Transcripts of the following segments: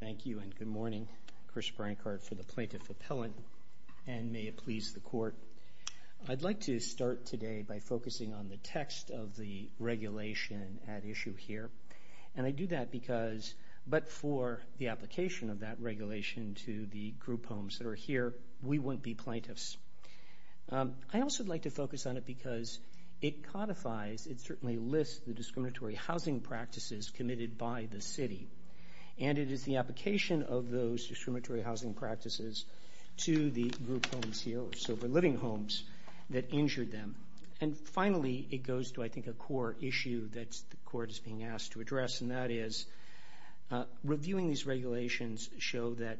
Thank you and good morning. Chris Brancard for the Plaintiff Appellant and may it please the Court. I'd like to start today by focusing on the text of the regulation at issue here. And I do that because, but for the application of that regulation to the group homes that are here, we wouldn't be plaintiffs. I also would like to focus on it because it codifies, it certainly lists the discriminatory housing practices committed by the city. And it is the application of those discriminatory housing practices to the group homes here, so the living homes that injured them. And finally, it goes to I think a core issue that the Court is being asked to address and that is reviewing these regulations show that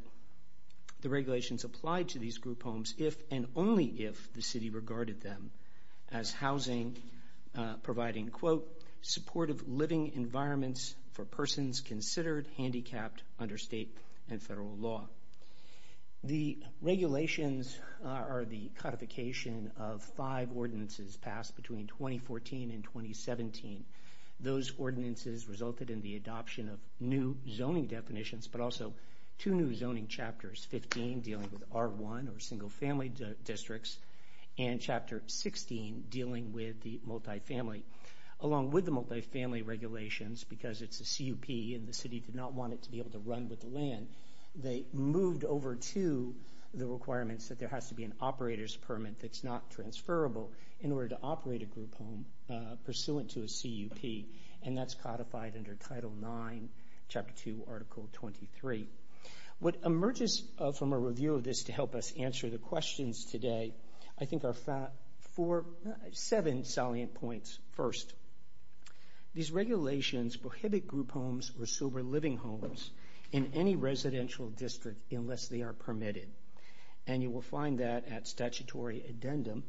the regulations apply to these group homes if and only if the city regarded them as housing, providing quote, supportive living environments for persons considered handicapped under state and federal law. The regulations are the codification of five ordinances passed between 2014 and 2017. Those ordinances resulted in the adoption of new zoning definitions, but also two new zoning chapters, 15 dealing with R1 or single family districts and chapter 16 dealing with the multifamily. Along with the multifamily regulations, because it's a CUP and the city did not want it to be able to run with the land, they moved over to the requirements that there has to be an operator's permit that's not transferable in order to operate a group home pursuant to a CUP. And that's codified under Title IX, Chapter 2, Article 23. What emerges from a review of this to help us answer the questions today, I think are seven salient points. First, these regulations prohibit group homes or sober living homes in any residential district unless they are permitted. And you will find that at statutory 13-323.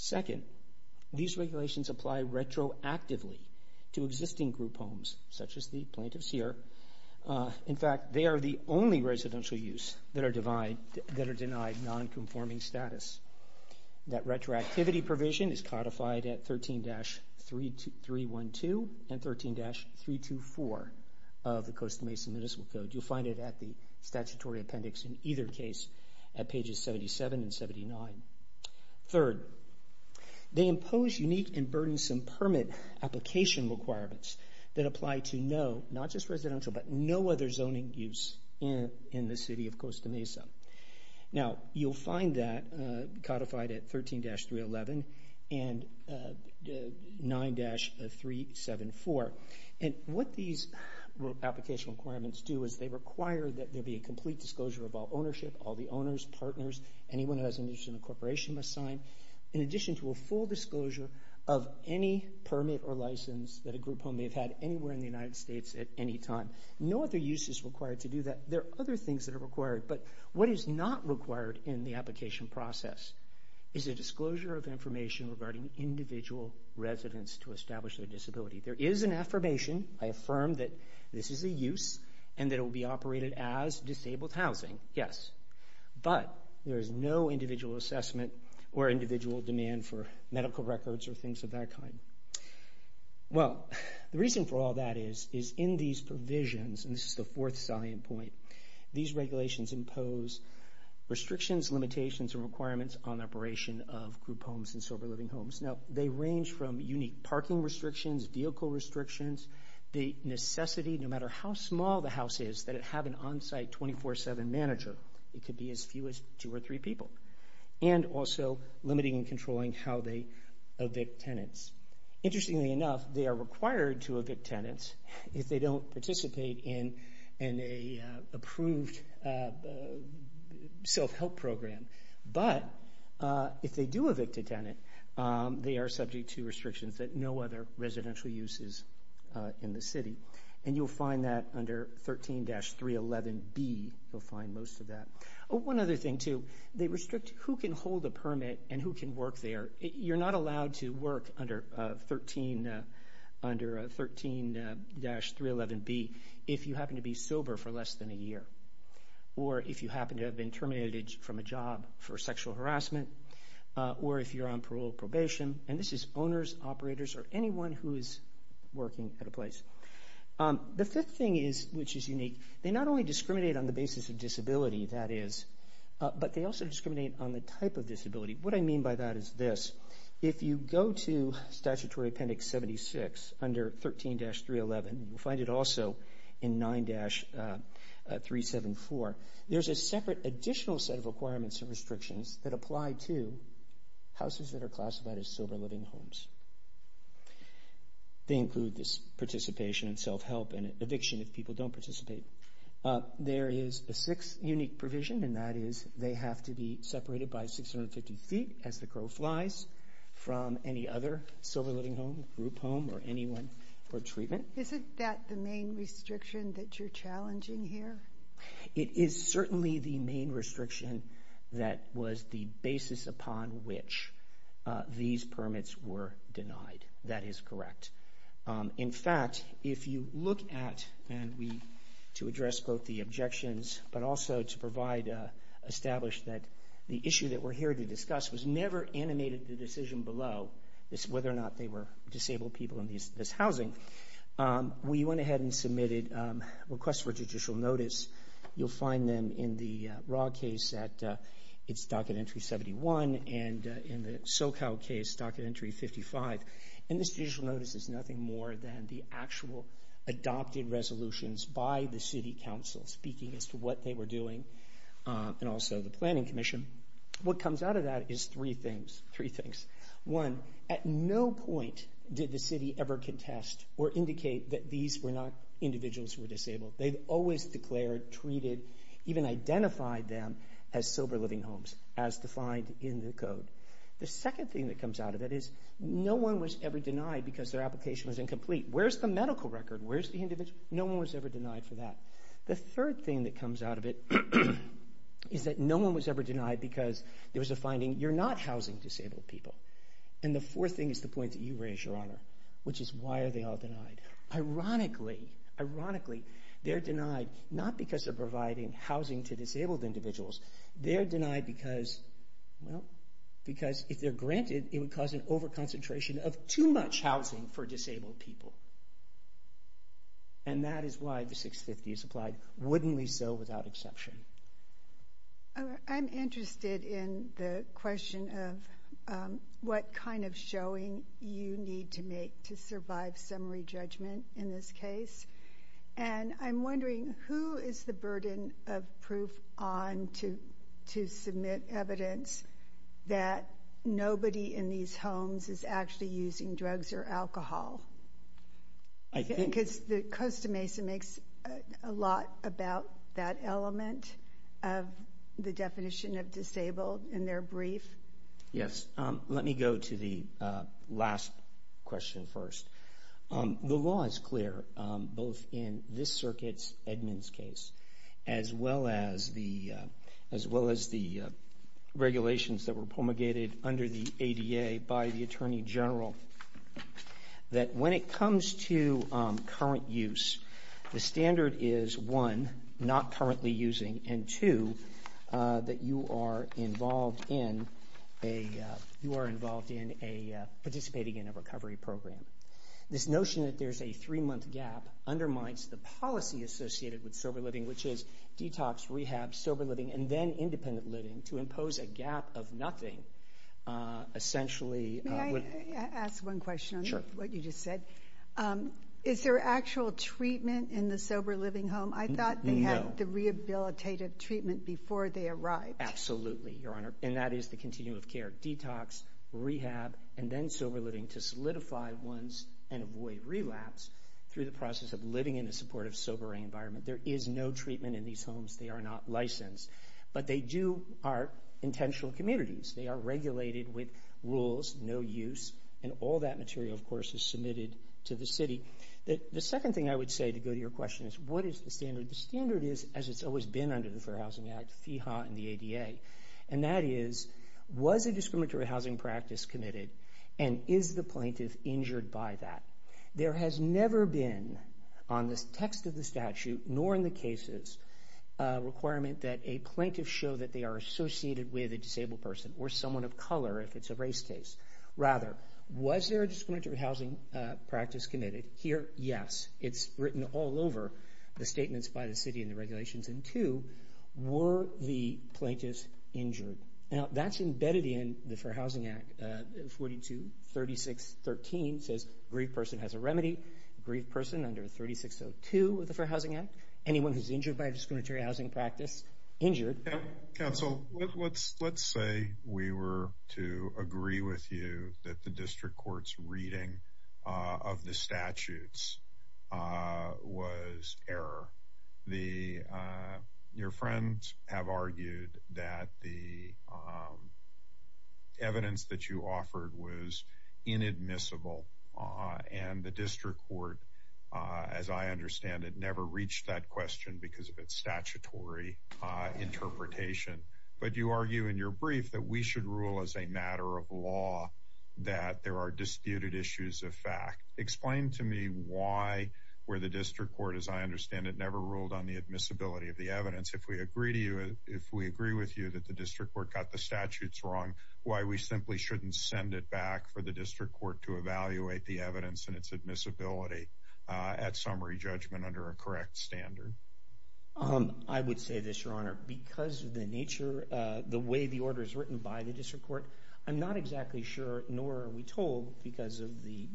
Second, these regulations apply retroactively to existing group homes, such as the plaintiffs here. In fact, they are the only residential use that are denied non-conforming status. That retroactivity provision is codified at 13-312 and 13-324 of the Coastal Mason Municipal Code. You'll find it at the statutory appendix in either case at pages 77 and 79. Third, they impose unique and burdensome permit application requirements that apply to no, not just residential, but no other zoning use in the city of Coastal Mason. Now, you'll find that codified at 13-311 and 9-374. And what these application requirements do is they require that there be a complete disclosure of all ownership, all the owners, partners, anyone who has an interest in a corporation must sign, in addition to a full disclosure of any permit or license that a group home may have had anywhere in the United States at any time. No other use is required to do that. There are other things that are required, but what is not required in the regarding individual residents to establish their disability. There is an affirmation, I affirm that this is a use, and that it will be operated as disabled housing, yes. But there is no individual assessment or individual demand for medical records or things of that kind. Well, the reason for all that is, is in these provisions, and this is the fourth salient point, these regulations impose restrictions, limitations, and requirements on operation of group homes and sober living homes. Now, they range from unique parking restrictions, vehicle restrictions, the necessity, no matter how small the house is, that it have an on-site 24-7 manager. It could be as few as two or three people. And also limiting and controlling how they evict tenants. Interestingly enough, they are required to evict tenants if they don't participate in an approved self-help program. But if they do evict a tenant, they are subject to restrictions that no other residential use is in the city. And you'll find that under 13-311B, you'll find most of that. One other thing too, they restrict who can hold a permit and who can work there. You're not allowed to work under 13-311B, if you happen to be sober for less than a year, or if you happen to have been terminated from a job for sexual harassment, or if you're on parole probation. And this is owners, operators, or anyone who is working at a place. The fifth thing is, which is unique, they not only discriminate on the basis of disability, that is, but they also discriminate on the type of disability. What I mean by that is this. If you go to statutory appendix 76 under 13-311, you'll find it also in 9-374, there's a separate additional set of requirements and restrictions that apply to houses that are classified as sober living homes. They include this participation in self-help and eviction if people don't participate. There is a sixth unique provision, and that is they have to be separated by 650 feet as the crow flies from any other sober living home, group home, or anyone for treatment. Isn't that the main restriction that you're challenging here? It is certainly the main restriction that was the basis upon which these permits were denied. That is correct. In fact, if you look at, and we, to address both the objections, but also to provide, establish that the issue that we're here to discuss was never animated the decision below is whether or not they were disabled people in this housing. We went ahead and submitted requests for judicial notice. You'll find them in the raw case at its docket entry 71, and in the SoCal case, docket entry 55. This judicial notice is nothing more than the actual adopted resolutions by the city council speaking as to what they were doing, and also the planning commission. What comes out of that is three things. Three things. One, at no point did the city ever contest or indicate that these were not individuals who were disabled. They always declared, treated, even identified them as sober living homes as defined in the code. The second thing that comes out of it is no one was ever denied because their application was incomplete. Where's the medical record? Where's the individual? No one was ever denied for that. The third thing that comes out of it is that no one was ever denied because there was a finding you're not housing disabled people. And the fourth thing is the point that you raised, your honor, which is why are they all denied? Ironically, ironically, they're denied not because they're providing housing to disabled individuals. They're denied because, well, because if they're granted, it would cause an over concentration of too much housing for disabled people. And that is why the 650 is applied. Wouldn't we so without exception? I'm interested in the question of what kind of showing you need to make to survive summary judgment in this case. And I'm wondering who is the burden of proof on to submit evidence that nobody in these homes is actually using drugs or alcohol? I think it's the Costa Mesa makes a lot about that element of the definition of disabled in their brief. Yes. Let me go to the last question first. The law is clear both in this circuit's Edmonds case as well as the regulations that were promulgated under the ADA by the Attorney General that when it comes to current use, the standard is one, not currently using and two, that you are involved in a participating in a recovery program. This notion that there's a three-month gap undermines the policy associated with sober living, which is detox, rehab, sober living, and then independent living to impose a gap of nothing, essentially. May I ask one question on what you just said? Sure. Is there actual treatment in the sober living home? I thought they had the rehabilitative treatment before they arrived. Absolutely, Your Honor. And that is the continuum of care, detox, rehab, and then sober living to solidify ones and avoid relapse through the process of living in a supportive, sobering environment. There is no treatment in these homes. They are not licensed, but they do are intentional communities. They are regulated with rules, no use, and all that material, of course, is submitted to the city. The second thing I would say to go to your question is what is the standard? The standard is as it's always been under the Fair Housing Act, FEHA and the ADA, and that is was a discriminatory housing practice committed and is the plaintiff injured by that? There has never been, on the text of the statute nor in the cases, a requirement that a plaintiff show that they are associated with a disabled person or someone of color if it's a race case. Rather, was there a discriminatory housing practice committed? Here, yes. It's written all over the statements by the city and the regulations. And two, were the plaintiffs injured? Now, that's embedded in the Fair Housing Act, 42, 36, 13 says a grieved person has a remedy. A grieved person under 3602 of the Fair Housing Act, anyone who's injured by a discriminatory housing practice, injured. Council, let's say we were to agree with you that the district court's reading of the statutes was error. Your friends have argued that the evidence that you offered was inadmissible, and the district court, as I understand it, never reached that question because of its statutory interpretation. But you argue in your brief that we should rule as a matter of law that there are disputed issues of fact. Explain to me why, where the district court, as I understand it, never ruled on the admissibility of the evidence. If we agree to you, if we agree with you that the district court got the statutes wrong, why we simply shouldn't send it back for the district court to evaluate the evidence and its admissibility at summary judgment under a correct standard? I would say this, Your Honor. Because of the nature, the way the order is written by the district court, we're not exactly sure, nor are we told, because the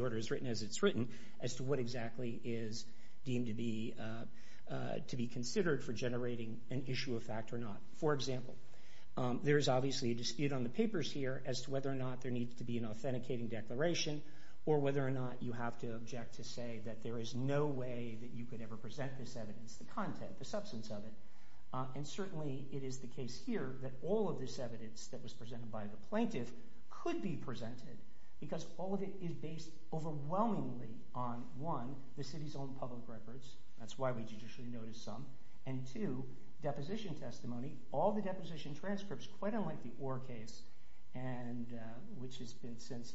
order is written as it's written, as to what exactly is deemed to be considered for generating an issue of fact or not. For example, there is obviously a dispute on the papers here as to whether or not there needs to be an authenticating declaration, or whether or not you have to object to say that there is no way that you could ever present this evidence, the content, the substance of it. And certainly, it is the case here that all of this evidence that was presented by the plaintiff could be presented, because all of it is based overwhelmingly on, one, the city's own public records. That's why we judicially notice some. And two, deposition testimony, all the deposition transcripts, quite unlike the Orr case, which has been since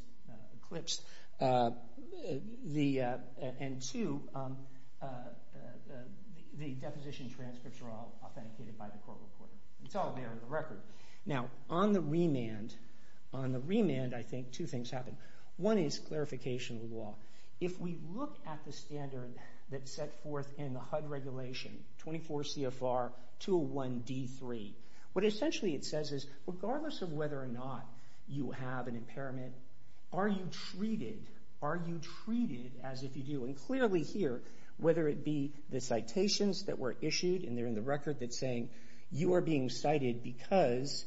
eclipsed. And two, the deposition transcripts are all authenticated by the court reporter. It's all there in the record. Now, on the remand, I think two things happen. One is clarification of the law. If we look at the standard that's set forth in the HUD regulation, 24 CFR 201-D3, what essentially it says is, regardless of whether or not you have an impairment, are you treated as if you do? And clearly here, whether it be the citations that were issued, and they're in the record that's saying, you are being cited because,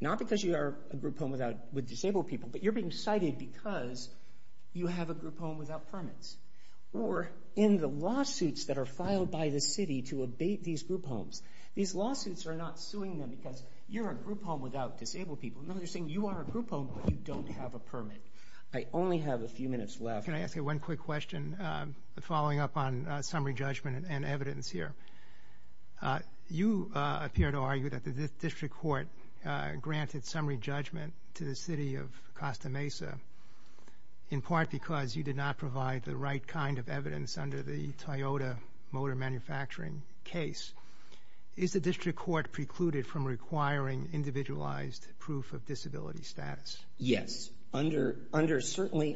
not because you are a group home with disabled people, but you're being cited because you have a group home without permits. Or in the lawsuits that are filed by the city to abate these group homes, these lawsuits are not suing them because you're a group home without a permit. I only have a few minutes left. Can I ask you one quick question, following up on summary judgment and evidence here? You appear to argue that the district court granted summary judgment to the city of Costa Mesa in part because you did not provide the right kind of evidence under the Toyota motor manufacturing case. Is the district court precluded from requiring individualized proof of disability status? Yes. Certainly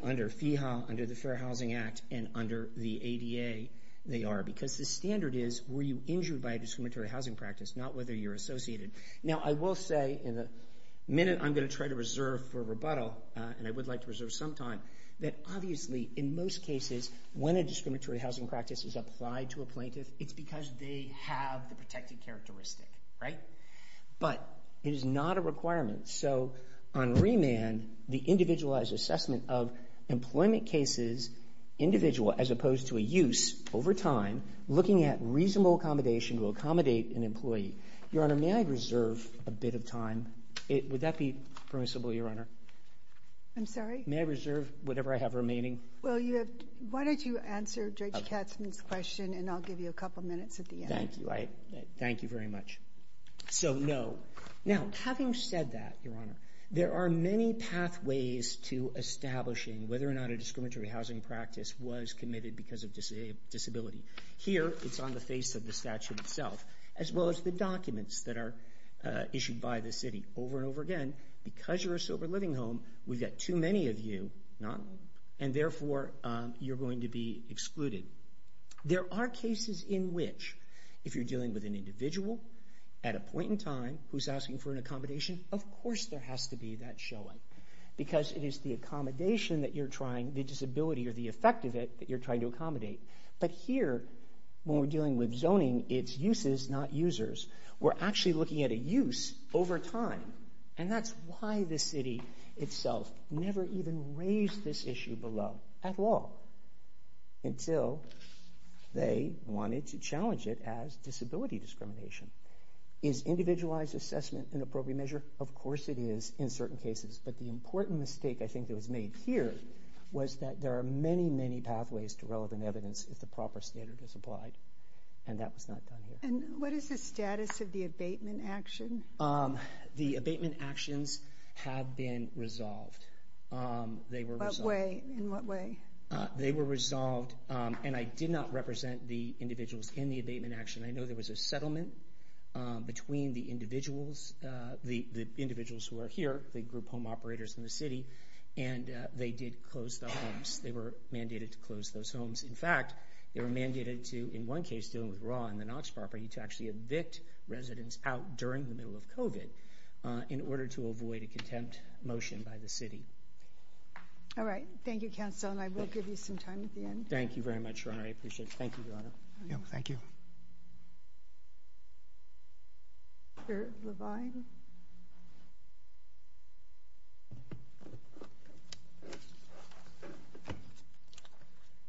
under FEHA, under the Fair Housing Act, and under the ADA, they are. Because the standard is, were you injured by a discriminatory housing practice, not whether you're associated. Now I will say, in the minute I'm going to try to reserve for rebuttal, and I would like to reserve some time, that obviously in most cases, when a discriminatory housing practice is applied to a plaintiff, it's because they have the protected characteristic. But it is not a So, on remand, the individualized assessment of employment cases, individual as opposed to a use, over time, looking at reasonable accommodation to accommodate an employee. Your Honor, may I reserve a bit of time? Would that be permissible, Your Honor? I'm sorry? May I reserve whatever I have remaining? Well, why don't you answer Judge Katzmann's question, and I'll give you a couple minutes at the end. Thank you. Thank you very much. So, no. Now, having said that, Your Honor, there are many pathways to establishing whether or not a discriminatory housing practice was committed because of disability. Here, it's on the face of the statute itself, as well as the documents that are issued by the city over and over again. Because you're a sober living home, we've got too many of you, and therefore, you're going to be excluded. There are cases in which, if you're dealing with an individual, at a point in time, who's asking for an accommodation, of course there has to be that showing. Because it is the accommodation that you're trying, the disability or the effect of it, that you're trying to accommodate. But here, when we're dealing with zoning, it's uses, not users. We're actually looking at a use over time. And that's why the city itself never even raised this issue below, at all, until they wanted to challenge it as disability discrimination. Is individualized assessment an appropriate measure? Of course it is, in certain cases. But the important mistake, I think, that was made here was that there are many, many pathways to relevant evidence if the proper standard is applied. And that was not done here. And what is the status of the abatement action? The abatement actions have been resolved. In what way? They were resolved, and I did not represent the individuals in the abatement action. I know there was a settlement between the individuals, the individuals who are here, the group home operators in the city, and they did close the homes. They were mandated to close those homes. In fact, they were mandated to, in one case, dealing with RAW and the Knox property, to actually evict residents out during the middle of COVID in order to avoid a contempt motion by the city. All right. Thank you, counsel, and I will give you some time at the end. Thank you very much, Your Honor. I appreciate it. Thank you, Your Honor. Thank you. Mr. Levine?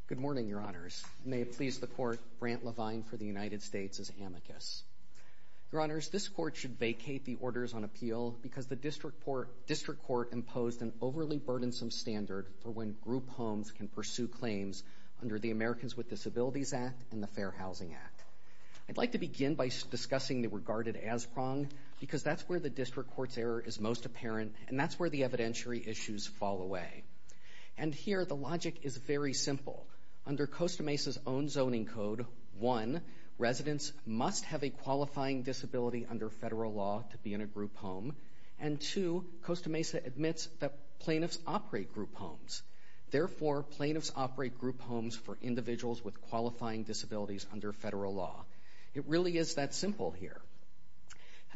Good morning, Your Honors. May it please the Court, Brant Levine for the United States is amicus. Your Honors, this Court should vacate the Orders on Appeal because the District Court imposed an overly burdensome standard for when group homes can pursue claims under the Americans with Disabilities Act and the Fair Housing Act. I'd like to begin by discussing the regarded as prong because that's where the District Court's error is most apparent, and that's where the evidentiary issues fall away. And here, the logic is very simple. Under Costa Mesa's own zoning code, one, residents must have a qualifying disability under federal law to be in a group home, and two, Costa Mesa admits that plaintiffs operate group homes. Therefore, plaintiffs operate group homes for individuals with qualifying disabilities under federal law. It really is that simple here.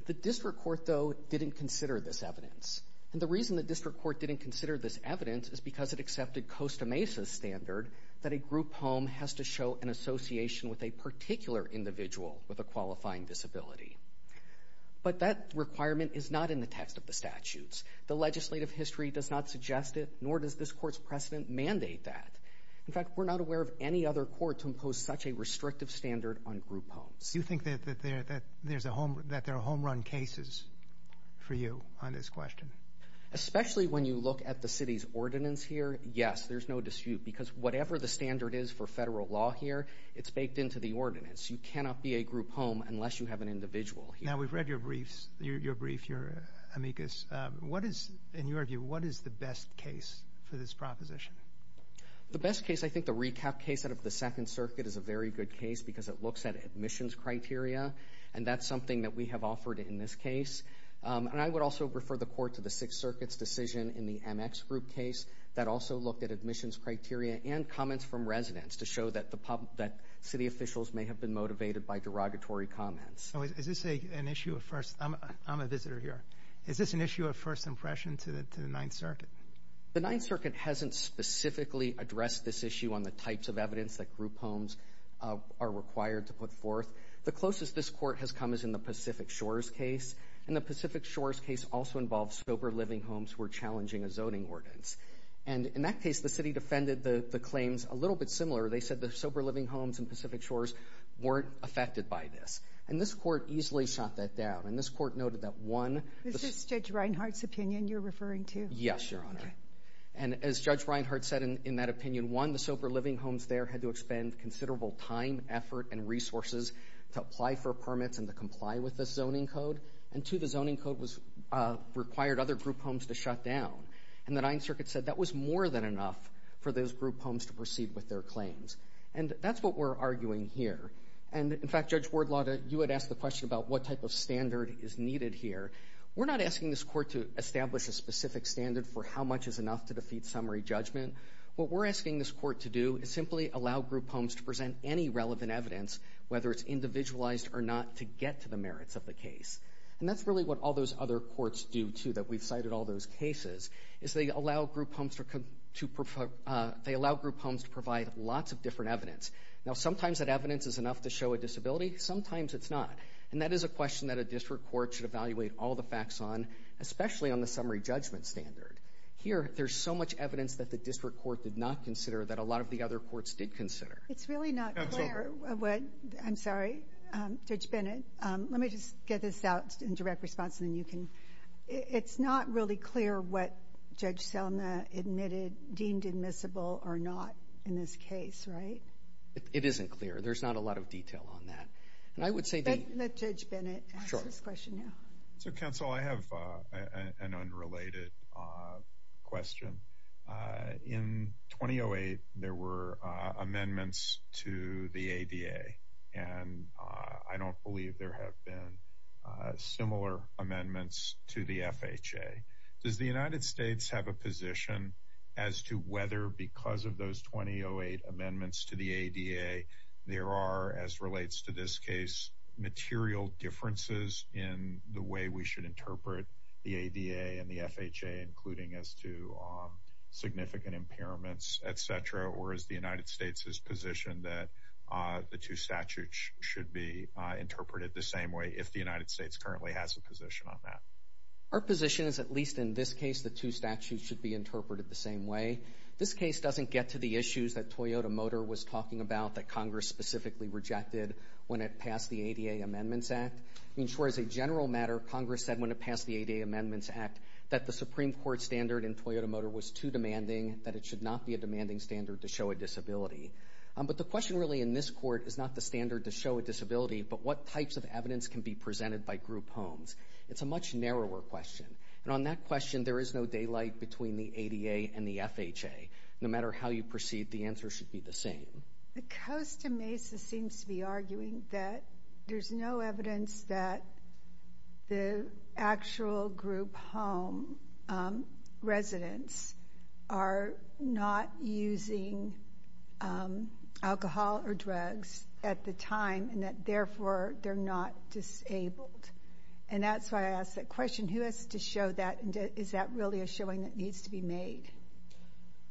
The District Court, though, didn't consider this evidence. And the reason the District Court didn't consider this evidence is because it accepted Costa Mesa's standard that a group home has to show an association with a particular individual with a qualifying disability. But that requirement is not in the text of the statutes. The legislative history does not suggest it, nor does this Court's precedent mandate that. In fact, we're not aware of any other court to impose such a restrictive standard on group homes. Do you think that there are home-run cases for you on this question? Especially when you look at the City's ordinance here, yes, there's no dispute because whatever the standard is for federal law here, it's baked into the ordinance. You cannot be a group home unless you have an individual here. Now, we've read your brief, your brief, your amicus. What is, in your view, what is the best case for this proposition? The best case, I think the recap case out of the Second Circuit is a very good case because it looks at admissions criteria, and that's something that we have offered in this case. And I would also refer the Court to the Sixth Circuit's decision in the MX group home case that also looked at admissions criteria and comments from residents to show that city officials may have been motivated by derogatory comments. Now, is this an issue of first, I'm a visitor here, is this an issue of first impression to the Ninth Circuit? The Ninth Circuit hasn't specifically addressed this issue on the types of evidence that group homes are required to put forth. The closest this Court has come is in the Pacific Shores case, and the Pacific Shores case also involves sober living homes who are challenging a license. And in that case, the city defended the claims a little bit similar. They said the sober living homes in Pacific Shores weren't affected by this. And this Court easily shot that down. And this Court noted that, one... Is this Judge Reinhart's opinion you're referring to? Yes, Your Honor. Okay. And as Judge Reinhart said in that opinion, one, the sober living homes there had to expend considerable time, effort, and resources to apply for permits and to comply with the zoning code. And two, the zoning code required other group homes to shut down. And the Ninth Circuit said that was more than enough for those group homes to proceed with their claims. And that's what we're arguing here. And in fact, Judge Wardlaw, you had asked the question about what type of standard is needed here. We're not asking this Court to establish a specific standard for how much is enough to defeat summary judgment. What we're asking this Court to do is simply allow group homes to present any relevant evidence, whether it's individualized or not, to get to the merits of the case. And that's really what all those other courts do, too, that we've cited all those cases, is they allow group homes to provide lots of different evidence. Now, sometimes that evidence is enough to show a disability. Sometimes it's not. And that is a question that a district court should evaluate all the facts on, especially on the summary judgment standard. Here, there's so much evidence that the district court did not consider that a lot of the other courts It's really not clear... No, it's okay. I'm sorry, Judge Bennett. Let me just get this out in direct response, and then you can... It's not really clear what Judge Selma admitted, deemed admissible or not in this case, right? It isn't clear. There's not a lot of detail on that. And I would say... Let Judge Bennett answer this question now. So, counsel, I have an unrelated question. In 2008, there were amendments to the ADA, and I don't believe there have been similar amendments to the FHA. Does the United States have a position as to whether, because of those 2008 amendments to the ADA, there are, as relates to this case, material differences in the way we should interpret the ADA and the FHA, including as to significant impairments, et cetera? Or is the United States' position that the two statutes should be interpreted the same way, if the United States currently has a position on that? Our position is, at least in this case, the two statutes should be interpreted the same way. This case doesn't get to the issues that Toyota Motor was talking about, that Congress specifically rejected when it passed the ADA Amendments Act. I mean, sure, as a general matter, Congress said when it passed the ADA Amendments Act that the Supreme Court standard in Toyota Motor was too demanding, that it should not be a demanding standard to show a disability. But the question really in this court is not the standard to show a disability, but what types of evidence can be presented by group homes? It's a much narrower question. And on that question, there is no daylight between the ADA and the FHA. No matter how you proceed, the answer should be the same. The Costa Mesa seems to be arguing that there's no evidence that the actual group home residents are not using alcohol or drugs at the time, and that therefore they're not disabled. And that's why I ask that question. Who has to show that, and is that really a showing that needs to be made?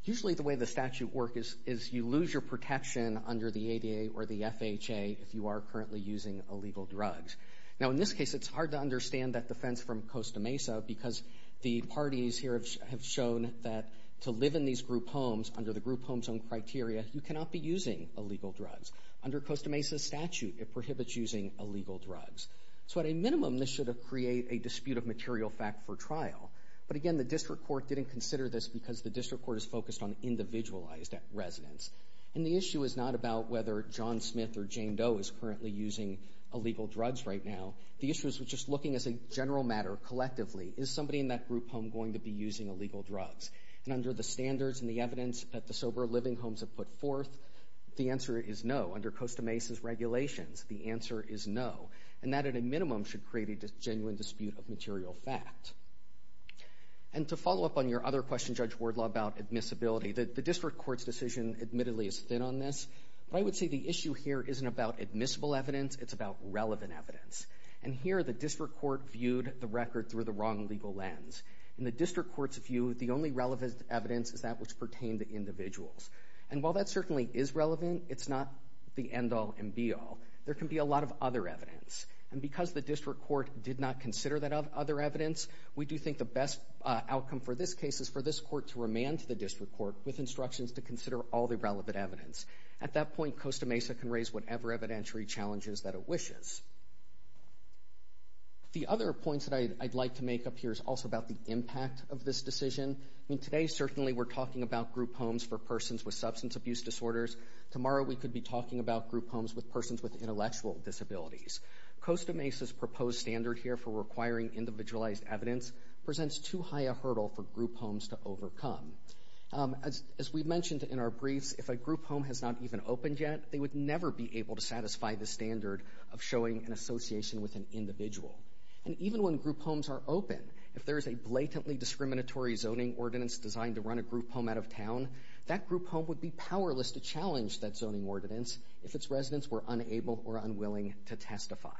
Usually the way the statute works is you lose your protection under the ADA or the FHA if you are currently using illegal drugs. Now in this case, it's hard to understand that defense from Costa Mesa because the parties here have shown that to live in these group homes under the group home zone criteria, you cannot be using illegal drugs. Under Costa Mesa's statute, it prohibits using illegal drugs. So at a minimum, this should have created a dispute of material fact for trial. But again, the district court didn't consider this because the district court is focused on individualized residents. And the issue is not about whether John Smith or Jane Doe is currently using illegal drugs right now. The issue is just looking as a general matter, collectively, is somebody in that group home going to be using illegal drugs? And under the standards and the evidence that the sober living homes have put forth, the answer is no. Under Costa Mesa's regulations, the answer is no. And that at a minimum should create a genuine dispute of material fact. And to follow up on your other question, Judge Wardlaw, about admissibility, the district court's decision admittedly is thin on this. But I would say the issue here isn't about admissible evidence, it's about relevant evidence. And here, the district court viewed the record through the wrong legal lens. In the district court's view, the only relevant evidence is that which pertained to individuals. And while that certainly is relevant, it's not the end of the world. It's a lot of other evidence. And because the district court did not consider that other evidence, we do think the best outcome for this case is for this court to remand the district court with instructions to consider all the relevant evidence. At that point, Costa Mesa can raise whatever evidentiary challenges that it wishes. The other point that I'd like to make up here is also about the impact of this decision. Today, certainly, we're talking about group homes for persons with substance abuse disorders. Tomorrow, we could be talking about group homes with persons with intellectual disabilities. Costa Mesa's proposed standard here for requiring individualized evidence presents too high a hurdle for group homes to overcome. As we mentioned in our briefs, if a group home has not even opened yet, they would never be able to satisfy the standard of showing an association with an individual. And even when group homes are open, if there is a blatantly discriminatory zoning ordinance designed to run a group home out of town, that group home would be powerless to challenge that zoning ordinance if its residents were unable or unwilling to testify.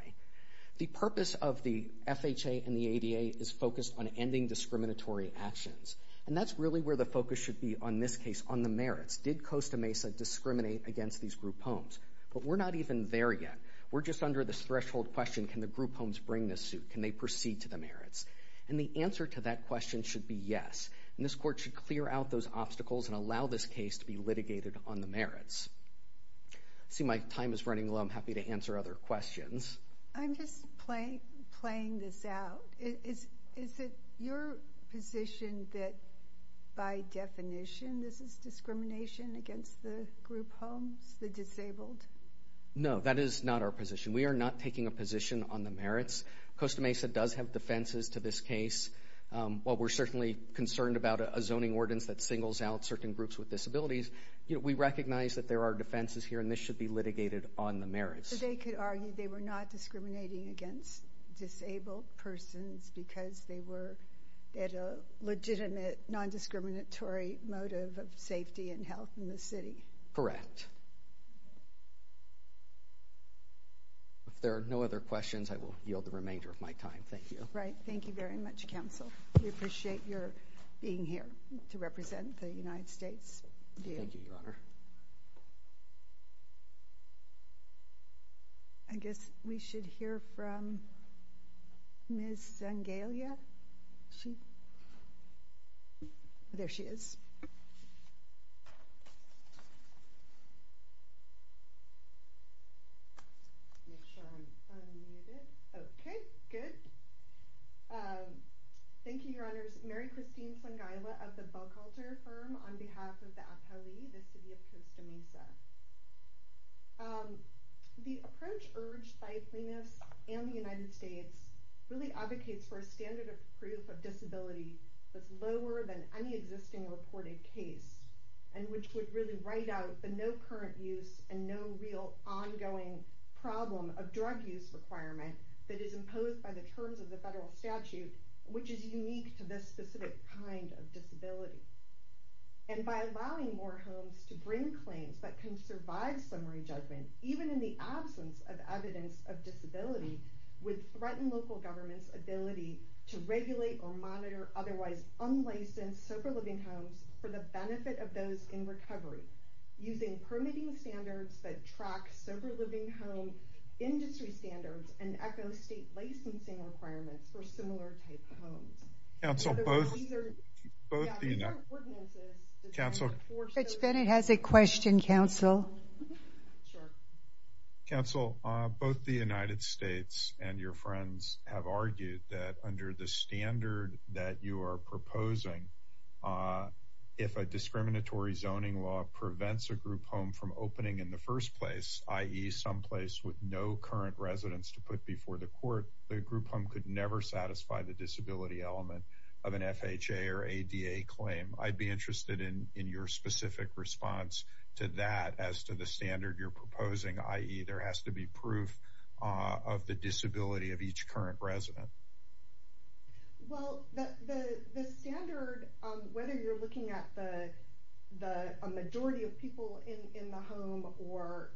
The purpose of the FHA and the ADA is focused on ending discriminatory actions. And that's really where the focus should be on this case, on the merits. Did Costa Mesa discriminate against these group homes? But we're not even there yet. We're just under this threshold question, can the group homes bring this suit? Can they proceed to the merits? And the answer to that question should be yes. And this court should clear out those obstacles and allow this case to be litigated on the merits. I see my time is running low. I'm happy to answer other questions. I'm just playing this out. Is it your position that by definition this is discrimination against the group homes, the disabled? No, that is not our position. We are not taking a position on the merits. Costa Mesa does have defenses to this case. While we're certainly concerned about a zoning ordinance that singles out certain groups with disabilities, we recognize that there are defenses here and this should be litigated on the merits. So they could argue they were not discriminating against disabled persons because they were at a legitimate non-discriminatory motive of safety and health in the city? Correct. If there are no other questions, I will yield the remainder of my time. Thank you. Thank you very much, Counsel. We appreciate your being here to represent the United States. Thank you, Your Honor. I guess we should hear from Ms. Zangelia. There she is. Make sure I'm unmuted. Okay, good. Thank you, Your Honors. Mary Christine Zangelia of the Belcalter Firm on behalf of the APALI, the City of Costa Mesa. The approach urged by Plaintiffs and the United States really advocates for a standard of proof of disability that's in a reported case and which would really write out the no current use and no real ongoing problem of drug use requirement that is imposed by the terms of the federal statute, which is unique to this specific kind of disability. And by allowing more homes to bring claims that can survive summary judgment, even in the absence of evidence of disability, would regulate or monitor otherwise unlicensed sober-living homes for the benefit of those in recovery using permitting standards that track sober-living home industry standards and echo state licensing requirements for similar types of homes. Counsel, both the United States and your friends have argued that under this standard that you are proposing, if a discriminatory zoning law prevents a group home from opening in the first place, i.e. someplace with no current residents to put before the court, the group home could never satisfy the disability element of an FHA or ADA claim. I'd be interested in your specific response to that as to the standard you're proposing, i.e. there has to be proof of the disability of each current resident. Well, the standard, whether you're looking at a majority of people in the home or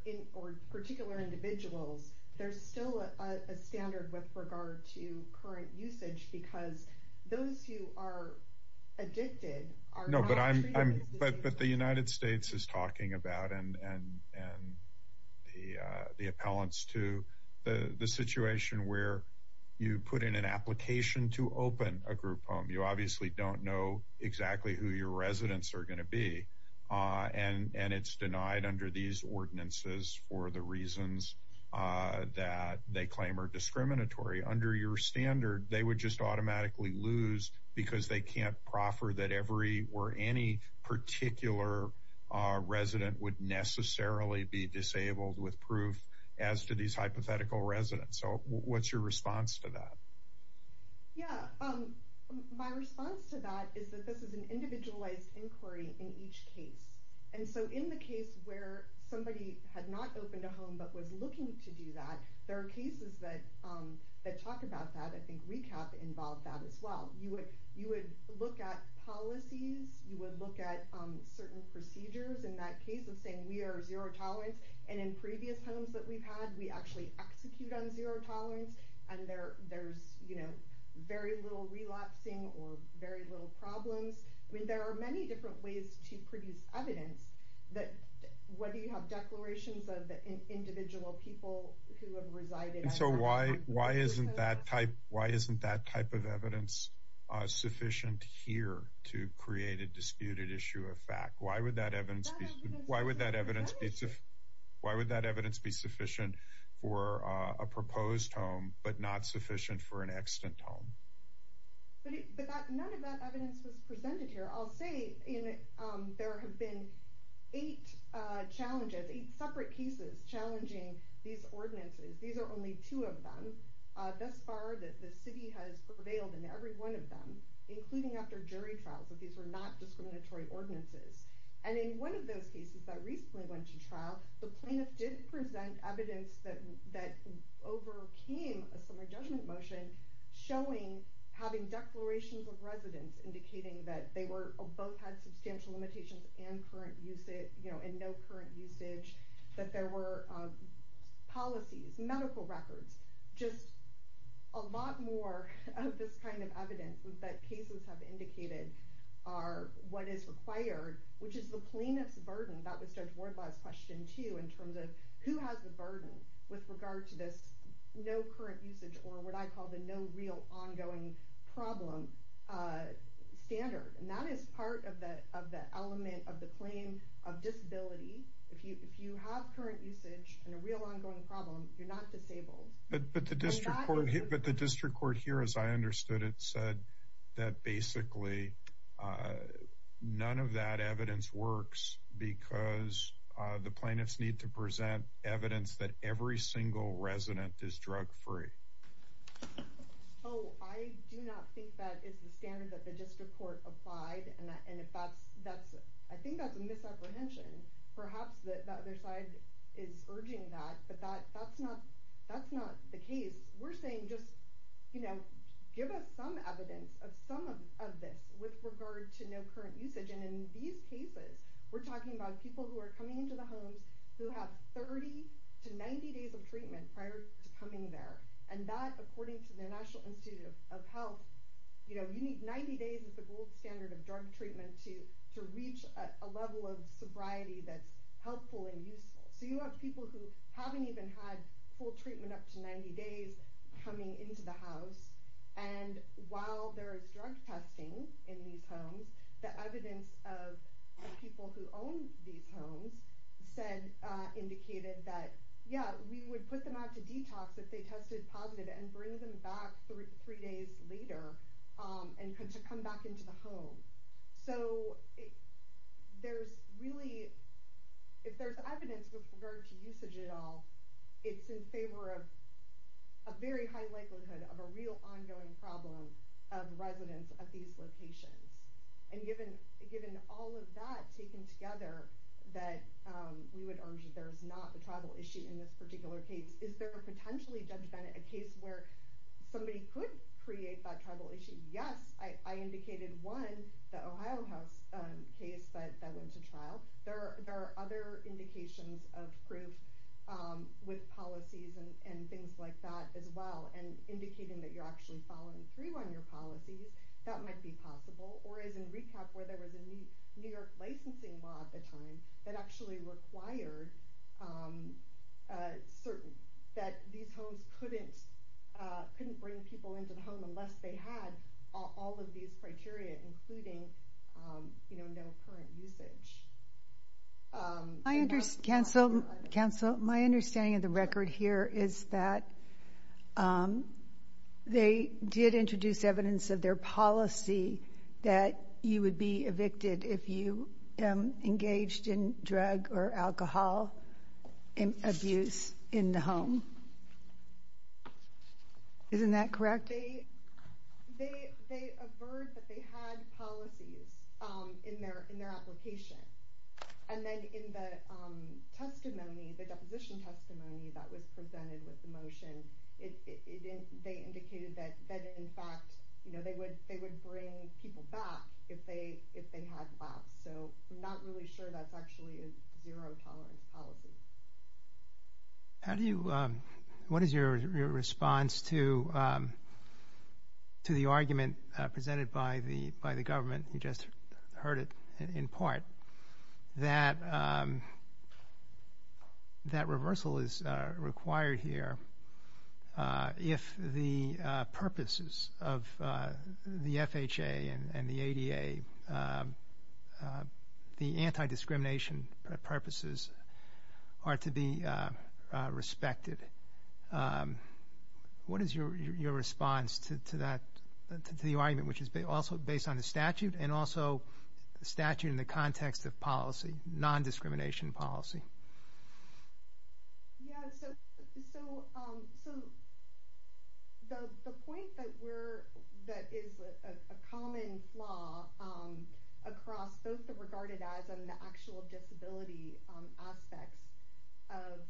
particular individuals, there's still a standard with regard to current usage because those who But the United States is talking about and the appellants to the situation where you put in an application to open a group home. You obviously don't know exactly who your residents are going to be. And it's denied under these ordinances for the reasons that they claim are discriminatory. Under your standard, they would just automatically lose because they can't proffer that every or any particular resident would necessarily be disabled with proof as to these hypothetical residents. So what's your response to that? Yeah, my response to that is that this is an individualized inquiry in each case. And so in the case where somebody had not opened a home but was looking to do that, there are cases that talk about that. I think RECAP involved that as well. You would look at policies. You would look at certain procedures. In that case of saying we are zero tolerance. And in previous homes that we've had, we actually execute on zero tolerance. And there's very little relapsing or very little problems. I mean, there are many different ways to produce evidence that whether you have declarations of individual people who have resided. So why isn't that type of evidence sufficient here to create a disputed issue of fact? Why would that evidence be sufficient for a proposed home but not sufficient for an extant home? But none of that evidence was presented here. I'll say there have been eight challenges, eight separate cases challenging these ordinances. These are only two of them. Thus far, the city has prevailed in every one of them, including after jury trials, that these were not discriminatory ordinances. And in one of those cases that recently went to trial, the plaintiff did present evidence that overcame a summary judgment motion showing, having declarations of residence indicating that they both had substantial limitations and no current usage, that there were policies, medical records. Just a lot more of this kind of evidence that cases have indicated are what is required, which is the plaintiff's burden. That was Judge Wardlaw's question, too, in terms of who has the burden with regard to this no current usage or what I call the no real ongoing problem standard. And that is part of the element of the claim of disability. If you have current usage and a real ongoing problem, you're not disabled. But the district court here, as I understood it, said that basically none of that evidence works because the plaintiffs need to present evidence that every single resident is drug free. Oh, I do not think that is the standard that the district court applied. And I think that's a misapprehension. Perhaps the other side is urging that. But that's not the case. We're saying just give us some evidence of some of this with regard to no current usage. And in these cases, we're talking about people who are coming into the homes who have 30 to 90 days of treatment prior to coming there. And that, according to the National Institute of Health, you need 90 days as the gold standard of drug treatment to reach a level of sobriety that's helpful and useful. So you have people who haven't even had full treatment up to 90 days coming into the house. And while there is drug testing in these homes, the evidence of people who own these homes said, indicated that, yeah, we would put them out to detox if they tested positive and bring them back three days later to come back into the home. So if there's evidence with regard to usage at all, it's in favor of a very high likelihood of a real ongoing problem of residents of these locations. And given all of that taken together, that we would urge that there's not a tribal issue in this particular case, is there potentially, Judge Bennett, a case where somebody could create that tribal issue? Yes, I indicated one, the Ohio House case that went to trial. There are other indications of proof with policies and things like that as well. And indicating that you're actually following through on your policies, that might be possible. Or as in recap, where there was a New York licensing law at the time that actually required certain, that these homes couldn't bring people into the home unless they had all of these criteria, including no current usage. Counsel, my understanding of the record here is that they did introduce evidence of their policy that you would be evicted if you engaged in drug or alcohol abuse in the home. Isn't that correct? They averred that they had policies in their application. And then in the testimony, the deposition testimony that was presented with the motion, they indicated that in fact they would bring people back if they had lapsed. So I'm not really sure that's actually a zero tolerance policy. How do you, what is your response to the argument presented by the government, you just heard it in part, that reversal is required here if the purposes of the FHA and the ADA, the anti-discrimination purposes are to be respected? What is your response to that, to the argument which is also based on the statute and also the statute in the context of policy, non-discrimination policy? Yeah, so the point that we're, that is a common flaw across both the regarded as and the actual disability aspects of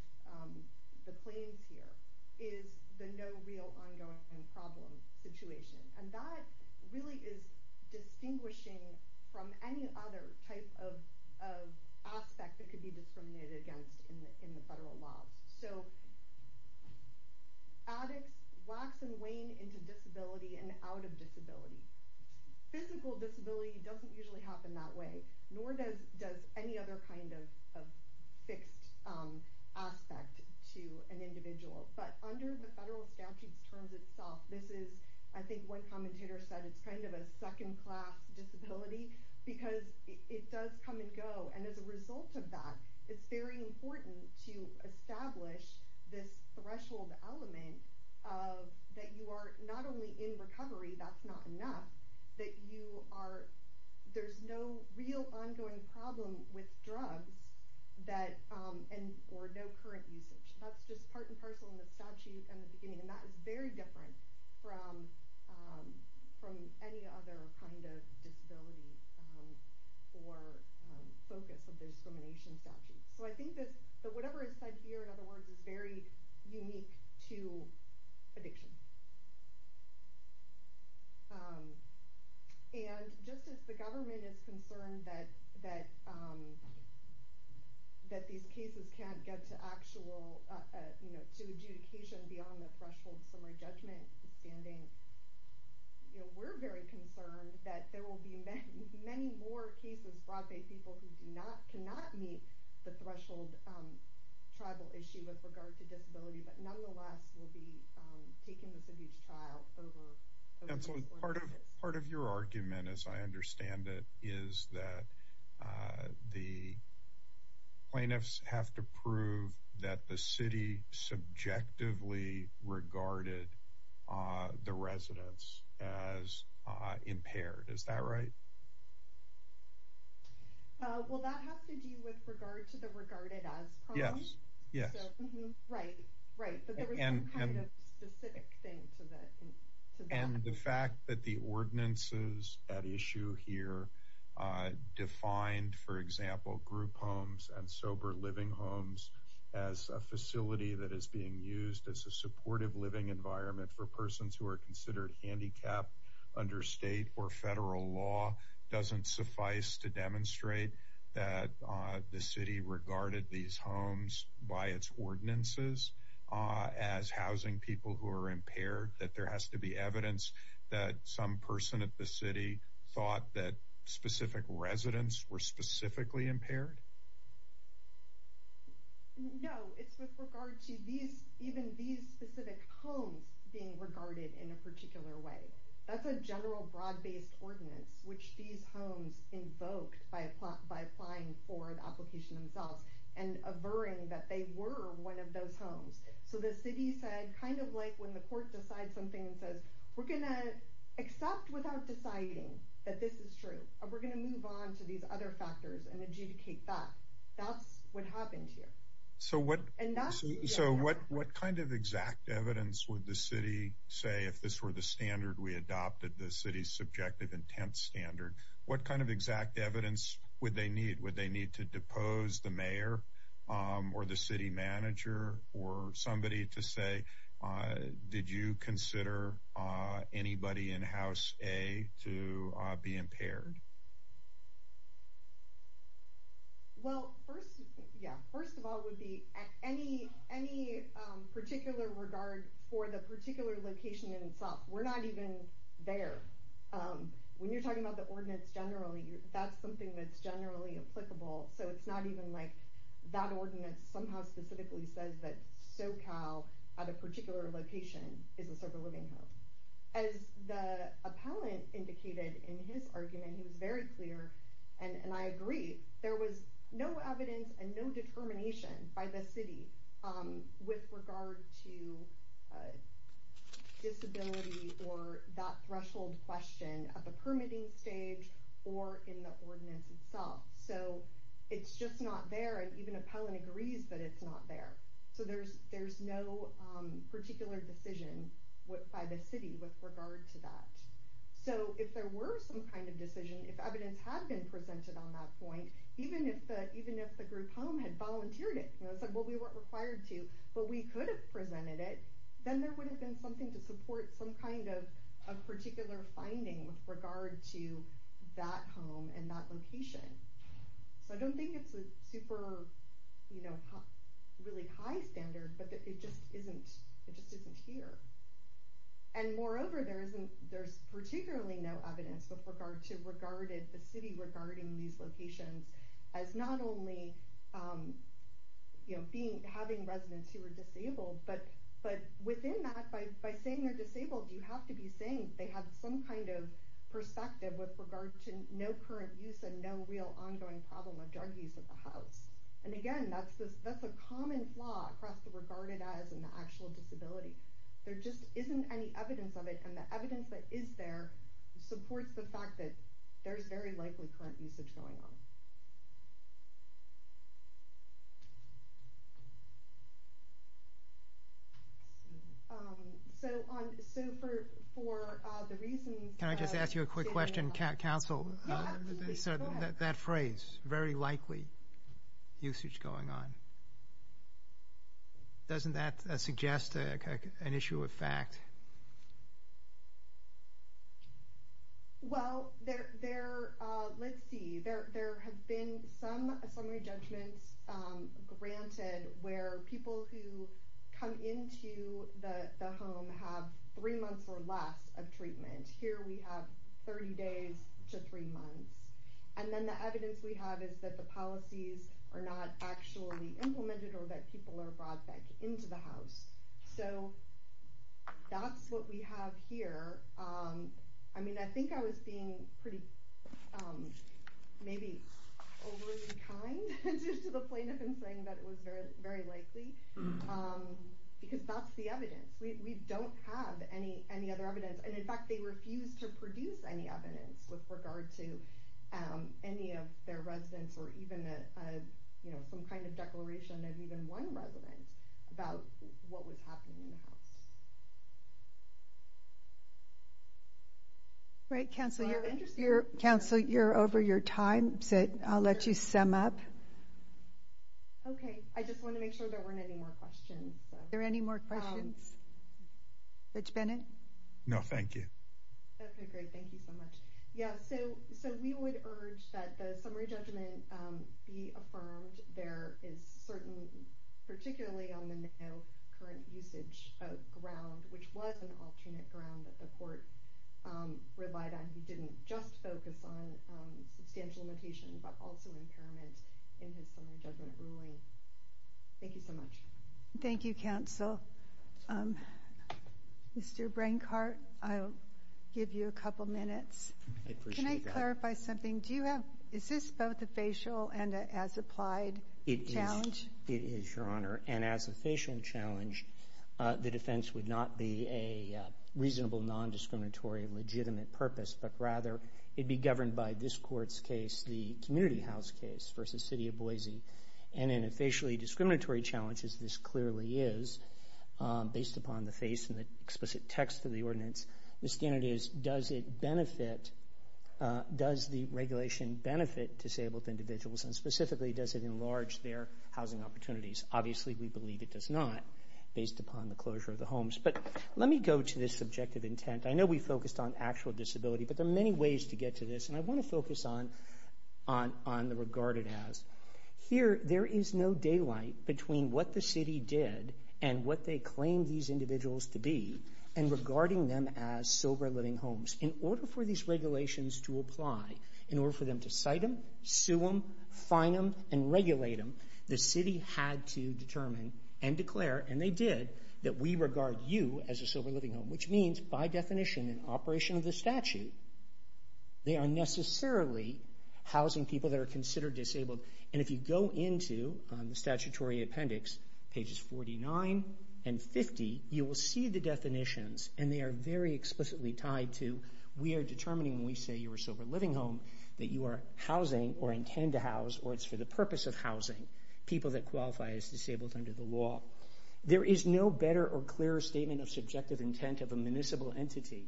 the claims here is the no real ongoing problem situation. And that really is distinguishing from any other type of aspect that could be discriminated against in the federal laws. So addicts wax and wane into disability and out of disability. Physical disability doesn't usually happen that way, nor does any other kind of fixed aspect to an individual. But under the federal statute's terms itself, this is, I think one commentator said, it's kind of a second class disability because it does come and go. And as a result of that, it's very important to establish this threshold element that you are not only in recovery, that's not enough, that you are, there's no real ongoing problem with drugs or no current usage. That's just part and parcel in the statute in the beginning. And that is very different from any other kind of disability or focus of the discrimination statute. So I think that whatever is said here, in other words, is very unique to addiction. And just as the government is concerned that these cases can't get to actual, to adjudication beyond the threshold summary judgment standing, we're very concerned that there will be many more cases brought by people who do not, cannot meet the threshold tribal issue with regard to disability, but nonetheless will be taking this abuse trial over and over. Part of your argument, as I understand it, is that the plaintiffs have to prove that the city subjectively regarded the residents as impaired. Is that right? Well, that has to do with regard to the regarded as problem. Yes, yes. Right, right. But there was some kind of specific thing to that. And the fact that the ordinances at issue here defined, for example, group homes and sober living homes as a facility that is being used as a supportive living environment for persons who are considered handicapped under state or federal law doesn't suffice to demonstrate that the city regarded these homes by its ordinances as housing people who are impaired, that there has to be evidence that some person at the city thought that specific residents were specifically impaired? No, it's with regard to even these specific homes being regarded in a particular way. That's a general broad-based ordinance, which these homes invoked by applying for the application themselves and averring that they were one of those homes. So the city said, kind of like when the court decides something and says, we're going to accept without deciding that this is true, we're going to move on to these other factors and adjudicate that. That's what happened here. So what kind of exact evidence would the city say, if this were the standard we adopted, the city's subjective intent standard, what kind of exact evidence would they need? Would they need to depose the mayor or the city manager or somebody to say, did you consider anybody in House A to be impaired? Well, first of all, it would be any particular regard for the particular location in itself. We're not even there. When you're talking about the ordinance generally, that's something that's generally applicable. So it's not even like that ordinance somehow specifically says that SoCal, at a particular location, is a sober living home. As the appellant indicated in his argument, he was very clear, and I agree, there was no evidence and no determination by the city with regard to disability or that threshold question at the permitting stage or in the ordinance itself. So it's just not there. And even appellant agrees that it's not there. So there's no particular decision by the city with regard to that. So if there were some kind of decision, if evidence had been presented on that point, even if the group home had volunteered it and said, well, we weren't required to, but we could have presented it, then there would have been something to support some kind of particular finding with regard to that home and that location. So I don't think it's a super really high standard, but it just isn't here. And moreover, there's particularly no evidence with regard to the city regarding these locations as not only having residents who are disabled, but within that, by saying they're disabled, you have to be saying they have some kind of perspective with regard to no current use and no real ongoing problem of drug use at the house. And again, that's a common flaw across the regarded as and the actual disability. There just isn't any evidence of it, and the evidence that is there supports the fact that there's very likely current usage going on. Can I just ask you a quick question, Council? That phrase, very likely usage going on, doesn't that suggest an issue of fact? Well, let's see. There have been some assembly judgments granted where people who come into the home have three months or less of treatment. Here we have 30 days to three months. And then the evidence we have is that the policies are not actually implemented or that people are brought back into the house. So that's what we have here. I mean, I think I was being pretty, maybe overly kind to the plaintiff in saying that it was very likely, because that's the evidence. We don't have any other evidence. And in fact, they refuse to produce any evidence with regard to any of their residents or even some kind of declaration of even one resident about what was happening in the house. Great, Council. Council, you're over your time. So I'll let you sum up. Okay, I just want to make sure there weren't any more questions. Are there any more questions? Rich Bennett? No, thank you. Okay, great. Thank you so much. Yeah, so we would urge that the summary judgment be affirmed. There is certain, particularly on the current usage of ground, which was an alternate ground that the court relied on. He didn't just focus on substantial limitation, but also impairment in his summary judgment ruling. Thank you so much. Thank you, Council. Mr. Brancart, I'll give you a couple minutes. I appreciate that. Can I clarify something? Is this both a facial and an as-applied challenge? It is, Your Honor. And as a facial challenge, the defense would not be a reasonable, non-discriminatory, legitimate purpose, but rather it'd be governed by this Court's case, the community house case versus City of Boise. And in a facially discriminatory challenge, as this clearly is, based upon the face and the explicit text of the ordinance, the standard is does the regulation benefit disabled individuals, and specifically does it enlarge their housing opportunities? Obviously, we believe it does not, based upon the closure of the homes. But let me go to this subjective intent. I know we focused on actual disability, but there are many ways to get to this, and I want to focus on the regarded as. Here, there is no daylight between what the city did and what they claimed these individuals to be and regarding them as sober living homes. In order for these regulations to apply, in order for them to cite them, sue them, fine them, and regulate them, the city had to determine and declare, and they did, that we regard you as a sober living home, which means, by definition, in operation of the statute, they are necessarily housing people that are considered disabled. And if you go into the statutory appendix, pages 49 and 50, you will see the definitions, and they are very explicitly tied to we are determining when we say you are a sober living home that you are housing or intend to house, or it's for the purpose of housing, people that qualify as disabled under the law. There is no better or clearer statement of subjective intent of a municipal entity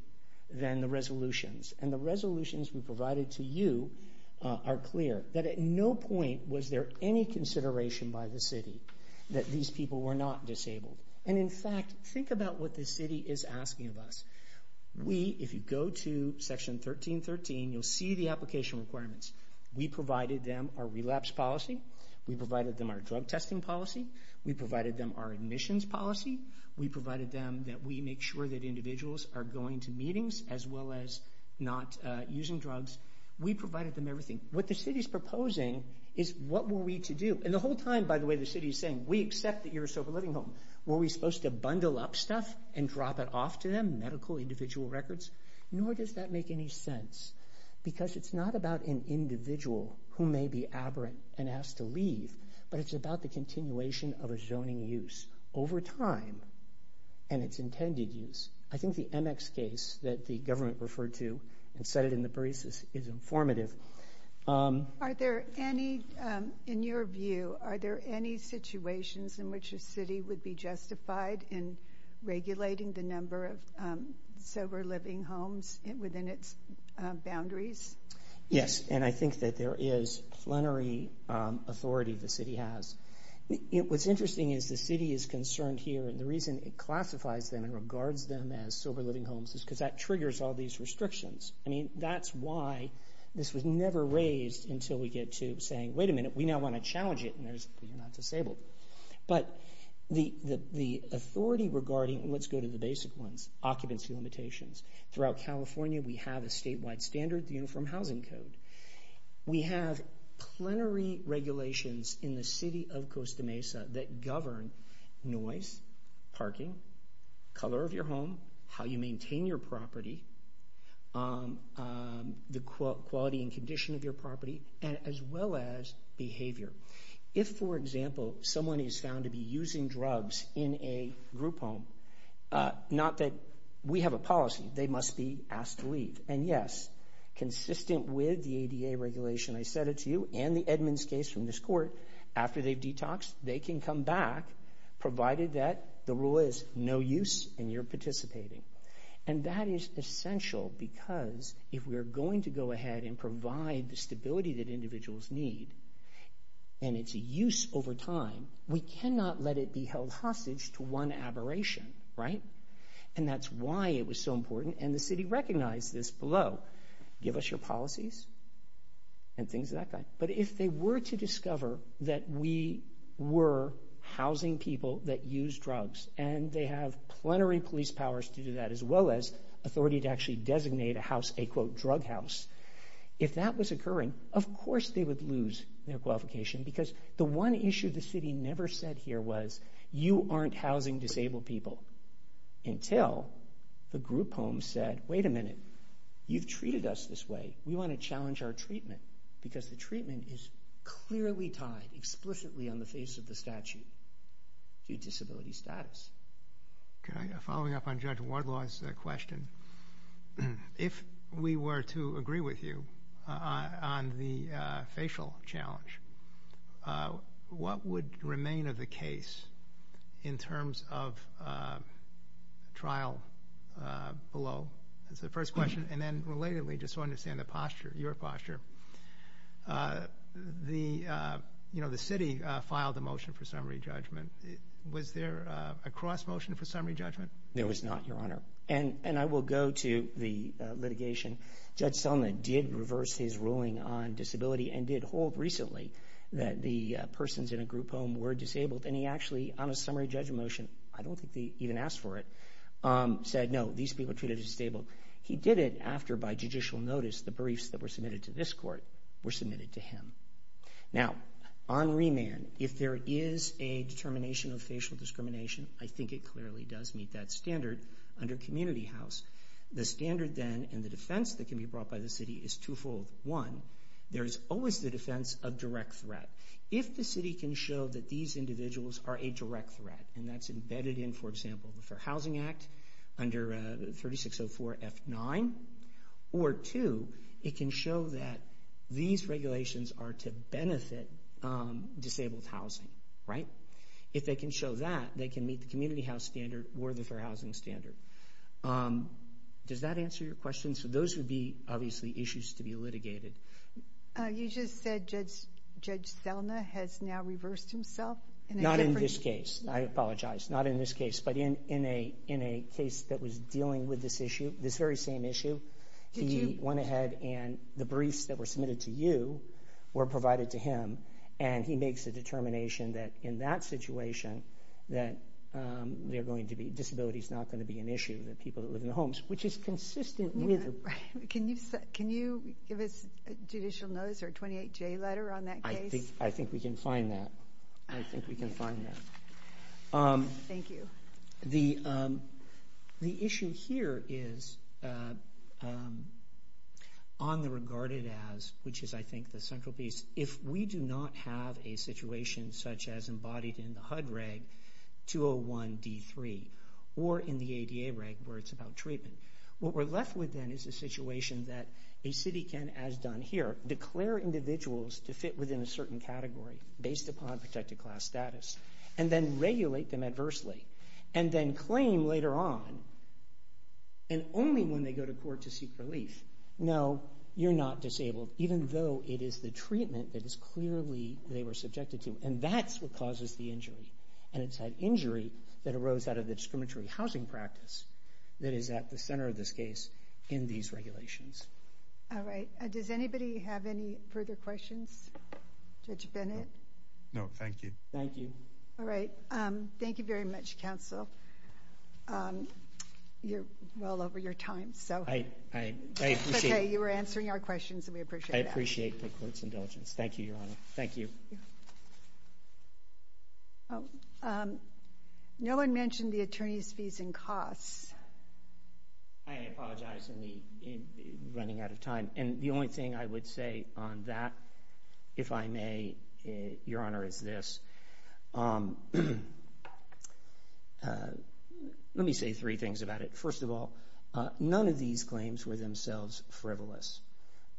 than the resolutions, and the resolutions we provided to you are clear, that at no point was there any consideration by the city that these people were not disabled. And in fact, think about what the city is asking of us. We, if you go to section 1313, you'll see the application requirements. We provided them our relapse policy. We provided them our drug testing policy. We provided them our admissions policy. We provided them that we make sure that individuals are going to meetings as well as not using drugs. We provided them everything. What the city is proposing is what were we to do. And the whole time, by the way, the city is saying, we accept that you're a sober living home. Were we supposed to bundle up stuff and drop it off to them, medical individual records? Nor does that make any sense because it's not about an individual who may be aberrant and asked to leave, but it's about the continuation of a zoning use. Over time and its intended use. I think the MX case that the government referred to and said it in the briefs is informative. Are there any, in your view, are there any situations in which a city would be justified in regulating the number of sober living homes within its boundaries? Yes, and I think that there is plenary authority the city has. What's interesting is the city is concerned here and the reason it classifies them and regards them as sober living homes is because that triggers all these restrictions. That's why this was never raised until we get to saying, wait a minute, we now want to challenge it and you're not disabled. But the authority regarding, let's go to the basic ones, occupancy limitations. Throughout California, we have a statewide standard, the Uniform Housing Code. We have plenary regulations in the city of Costa Mesa that govern noise, parking, color of your home, how you maintain your property, the quality and condition of your property, as well as behavior. If, for example, someone is found to be using drugs in a group home, and yes, consistent with the ADA regulation I said it to you and the Edmunds case from this court, after they've detoxed, they can come back, provided that the rule is no use and you're participating. And that is essential because if we're going to go ahead and provide the stability that individuals need, and it's a use over time, we cannot let it be held hostage to one aberration, right? And that's why it was so important, and the city recognized this below. Give us your policies and things of that kind. But if they were to discover that we were housing people that use drugs and they have plenary police powers to do that, as well as authority to actually designate a house a, quote, drug house, if that was occurring, of course they would lose their qualification because the one issue the city never said here was, you aren't housing disabled people until the group home said, wait a minute, you've treated us this way. We want to challenge our treatment because the treatment is clearly tied explicitly on the face of the statute to disability status. Okay, following up on Judge Wardlaw's question, if we were to agree with you on the facial challenge, what would remain of the case in terms of trial below? That's the first question. And then relatedly, just so I understand the posture, your posture, the city filed a motion for summary judgment. Was there a cross motion for summary judgment? There was not, Your Honor. And I will go to the litigation. Judge Selma did reverse his ruling on disability and did hold recently that the persons in a group home were disabled, and he actually, on a summary judgment motion, I don't think they even asked for it, said, no, these people are treated as disabled. He did it after, by judicial notice, the briefs that were submitted to this court were submitted to him. Now, on remand, if there is a determination of facial discrimination, I think it clearly does meet that standard under community house. The standard then and the defense that can be brought by the city is twofold. One, there is always the defense of direct threat. If the city can show that these individuals are a direct threat, and that's embedded in, for example, the Fair Housing Act under 3604 F9, or two, it can show that these regulations are to benefit disabled housing. If they can show that, they can meet the community house standard or the Fair Housing standard. Does that answer your question? Those would be, obviously, issues to be litigated. You just said Judge Selma has now reversed himself? Not in this case. I apologize. Not in this case, but in a case that was dealing with this issue, this very same issue. He went ahead and the briefs that were submitted to you were provided to him, and he makes a determination that in that situation, that disability is not going to be an issue in the people that live in the homes, which is consistent with the- Can you give us a judicial notice or a 28-J letter on that case? I think we can find that. I think we can find that. Thank you. The issue here is on the regarded as, which is, I think, the central piece. If we do not have a situation such as embodied in the HUD reg 201-D3 or in the ADA reg where it's about treatment, what we're left with then is a situation that a city can, as done here, declare individuals to fit within a certain category based upon protected class status and then regulate them adversely and then claim later on, and only when they go to court to seek relief, no, you're not disabled, even though it is the treatment that is clearly they were subjected to, and that's what causes the injury, and it's that injury that arose out of the discriminatory housing practice that is at the center of this case in these regulations. All right. Does anybody have any further questions? Judge Bennett? No, thank you. Thank you. All right. Thank you very much, counsel. You're well over your time, so- Okay, you were answering our questions, and we appreciate that. I appreciate the court's indulgence. Thank you, Your Honor. Thank you. No one mentioned the attorney's fees and costs. I apologize for running out of time, and the only thing I would say on that, if I may, Your Honor, is this. Let me say three things about it. First of all, none of these claims were themselves frivolous.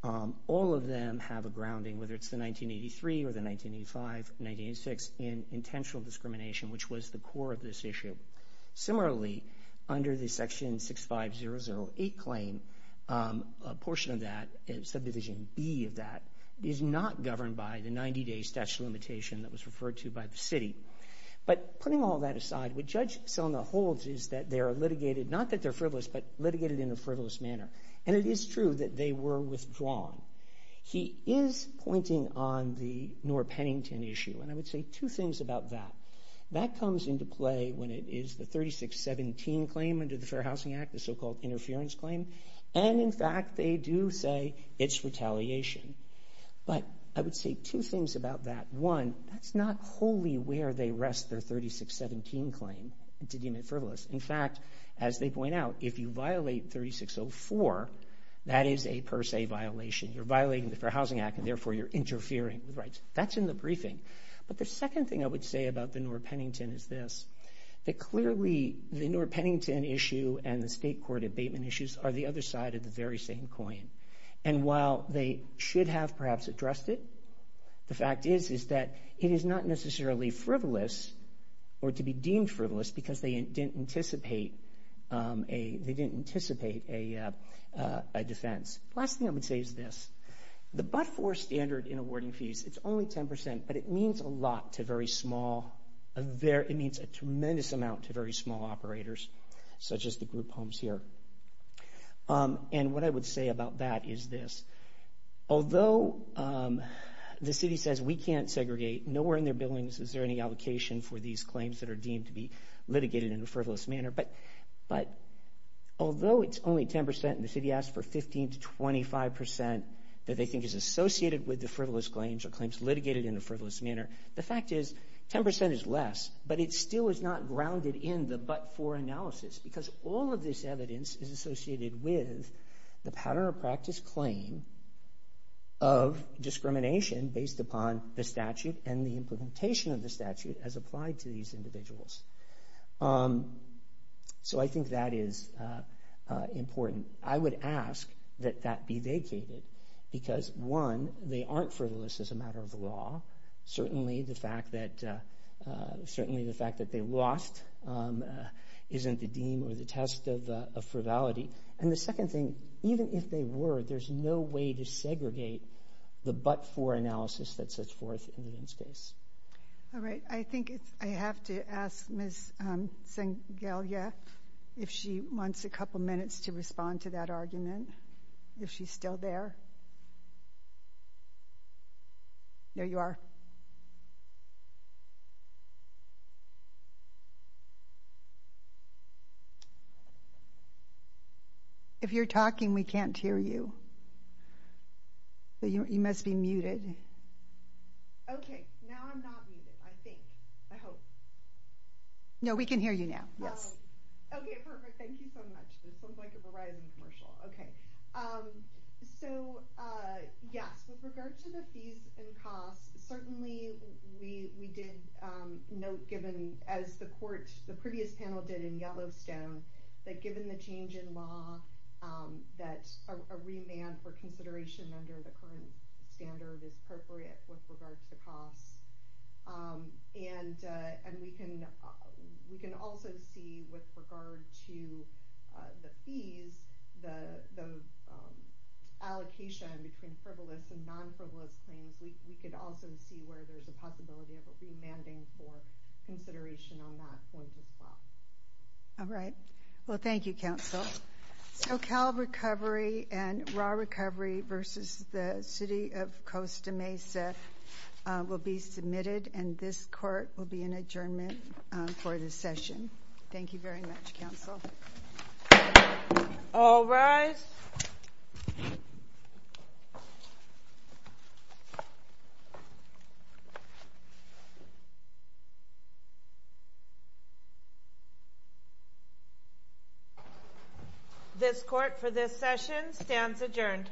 All of them have a grounding, whether it's the 1983 or the 1985, 1986, in intentional discrimination, which was the core of this issue. Similarly, under the Section 65008 claim, a portion of that, subdivision B of that, is not governed by the 90-day statute of limitation that was referred to by the city. But putting all that aside, what Judge Selma holds is that they are litigated, not that they're frivolous, but litigated in a frivolous manner, and it is true that they were withdrawn. He is pointing on the Noor-Pennington issue, and I would say two things about that. That comes into play when it is the 3617 claim under the Fair Housing Act, the so-called interference claim, and, in fact, they do say it's retaliation. But I would say two things about that. One, that's not wholly where they rest their 3617 claim to deem it frivolous. In fact, as they point out, if you violate 3604, that is a per se violation. You're violating the Fair Housing Act, and, therefore, you're interfering with rights. That's in the briefing. But the second thing I would say about the Noor-Pennington is this, that clearly the Noor-Pennington issue and the state court abatement issues are the other side of the very same coin. And while they should have perhaps addressed it, the fact is is that it is not necessarily frivolous or to be deemed frivolous because they didn't anticipate a defense. The last thing I would say is this. The but-for standard in awarding fees, it's only 10%, but it means a lot to very small, it means a tremendous amount to very small operators, such as the group homes here. And what I would say about that is this. Although the city says we can't segregate, nowhere in their billings is there any allocation for these claims that are deemed to be litigated in a frivolous manner, but although it's only 10% and the city asks for 15% to 25% that they think is associated with the frivolous claims or claims litigated in a frivolous manner, the fact is 10% is less, but it still is not grounded in the but-for analysis because all of this evidence is associated with the pattern of practice claim of discrimination based upon the statute and the implementation of the statute as applied to these individuals. So I think that is important. I would ask that that be vacated because, one, they aren't frivolous as a matter of law. Certainly the fact that they lost isn't the deem or the test of frivolity. And the second thing, even if they were, there's no way to segregate the but-for analysis that sets forth in the Vince case. All right. I think I have to ask Ms. Sangalia if she wants a couple minutes to respond to that argument, if she's still there. Ms. Sangalia? There you are. If you're talking, we can't hear you. You must be muted. Okay. Now I'm not muted, I think. I hope. No, we can hear you now. Yes. Okay, perfect. Thank you so much. This sounds like a Verizon commercial. Okay. So, yes, with regard to the fees and costs, certainly we did note, given, as the court, the previous panel did in Yellowstone, that given the change in law, that a remand for consideration under the current standard is appropriate with regard to the costs. And we can also see, with regard to the fees, the allocation between frivolous and non-frivolous claims, we could also see where there's a possibility of a remanding for consideration on that point as well. All right. Well, thank you, counsel. So Cal Recovery and Ra Recovery versus the City of Costa Mesa will be submitted, and this court will be in adjournment for this session. Thank you very much, counsel. All rise. This court, for this session, stands adjourned.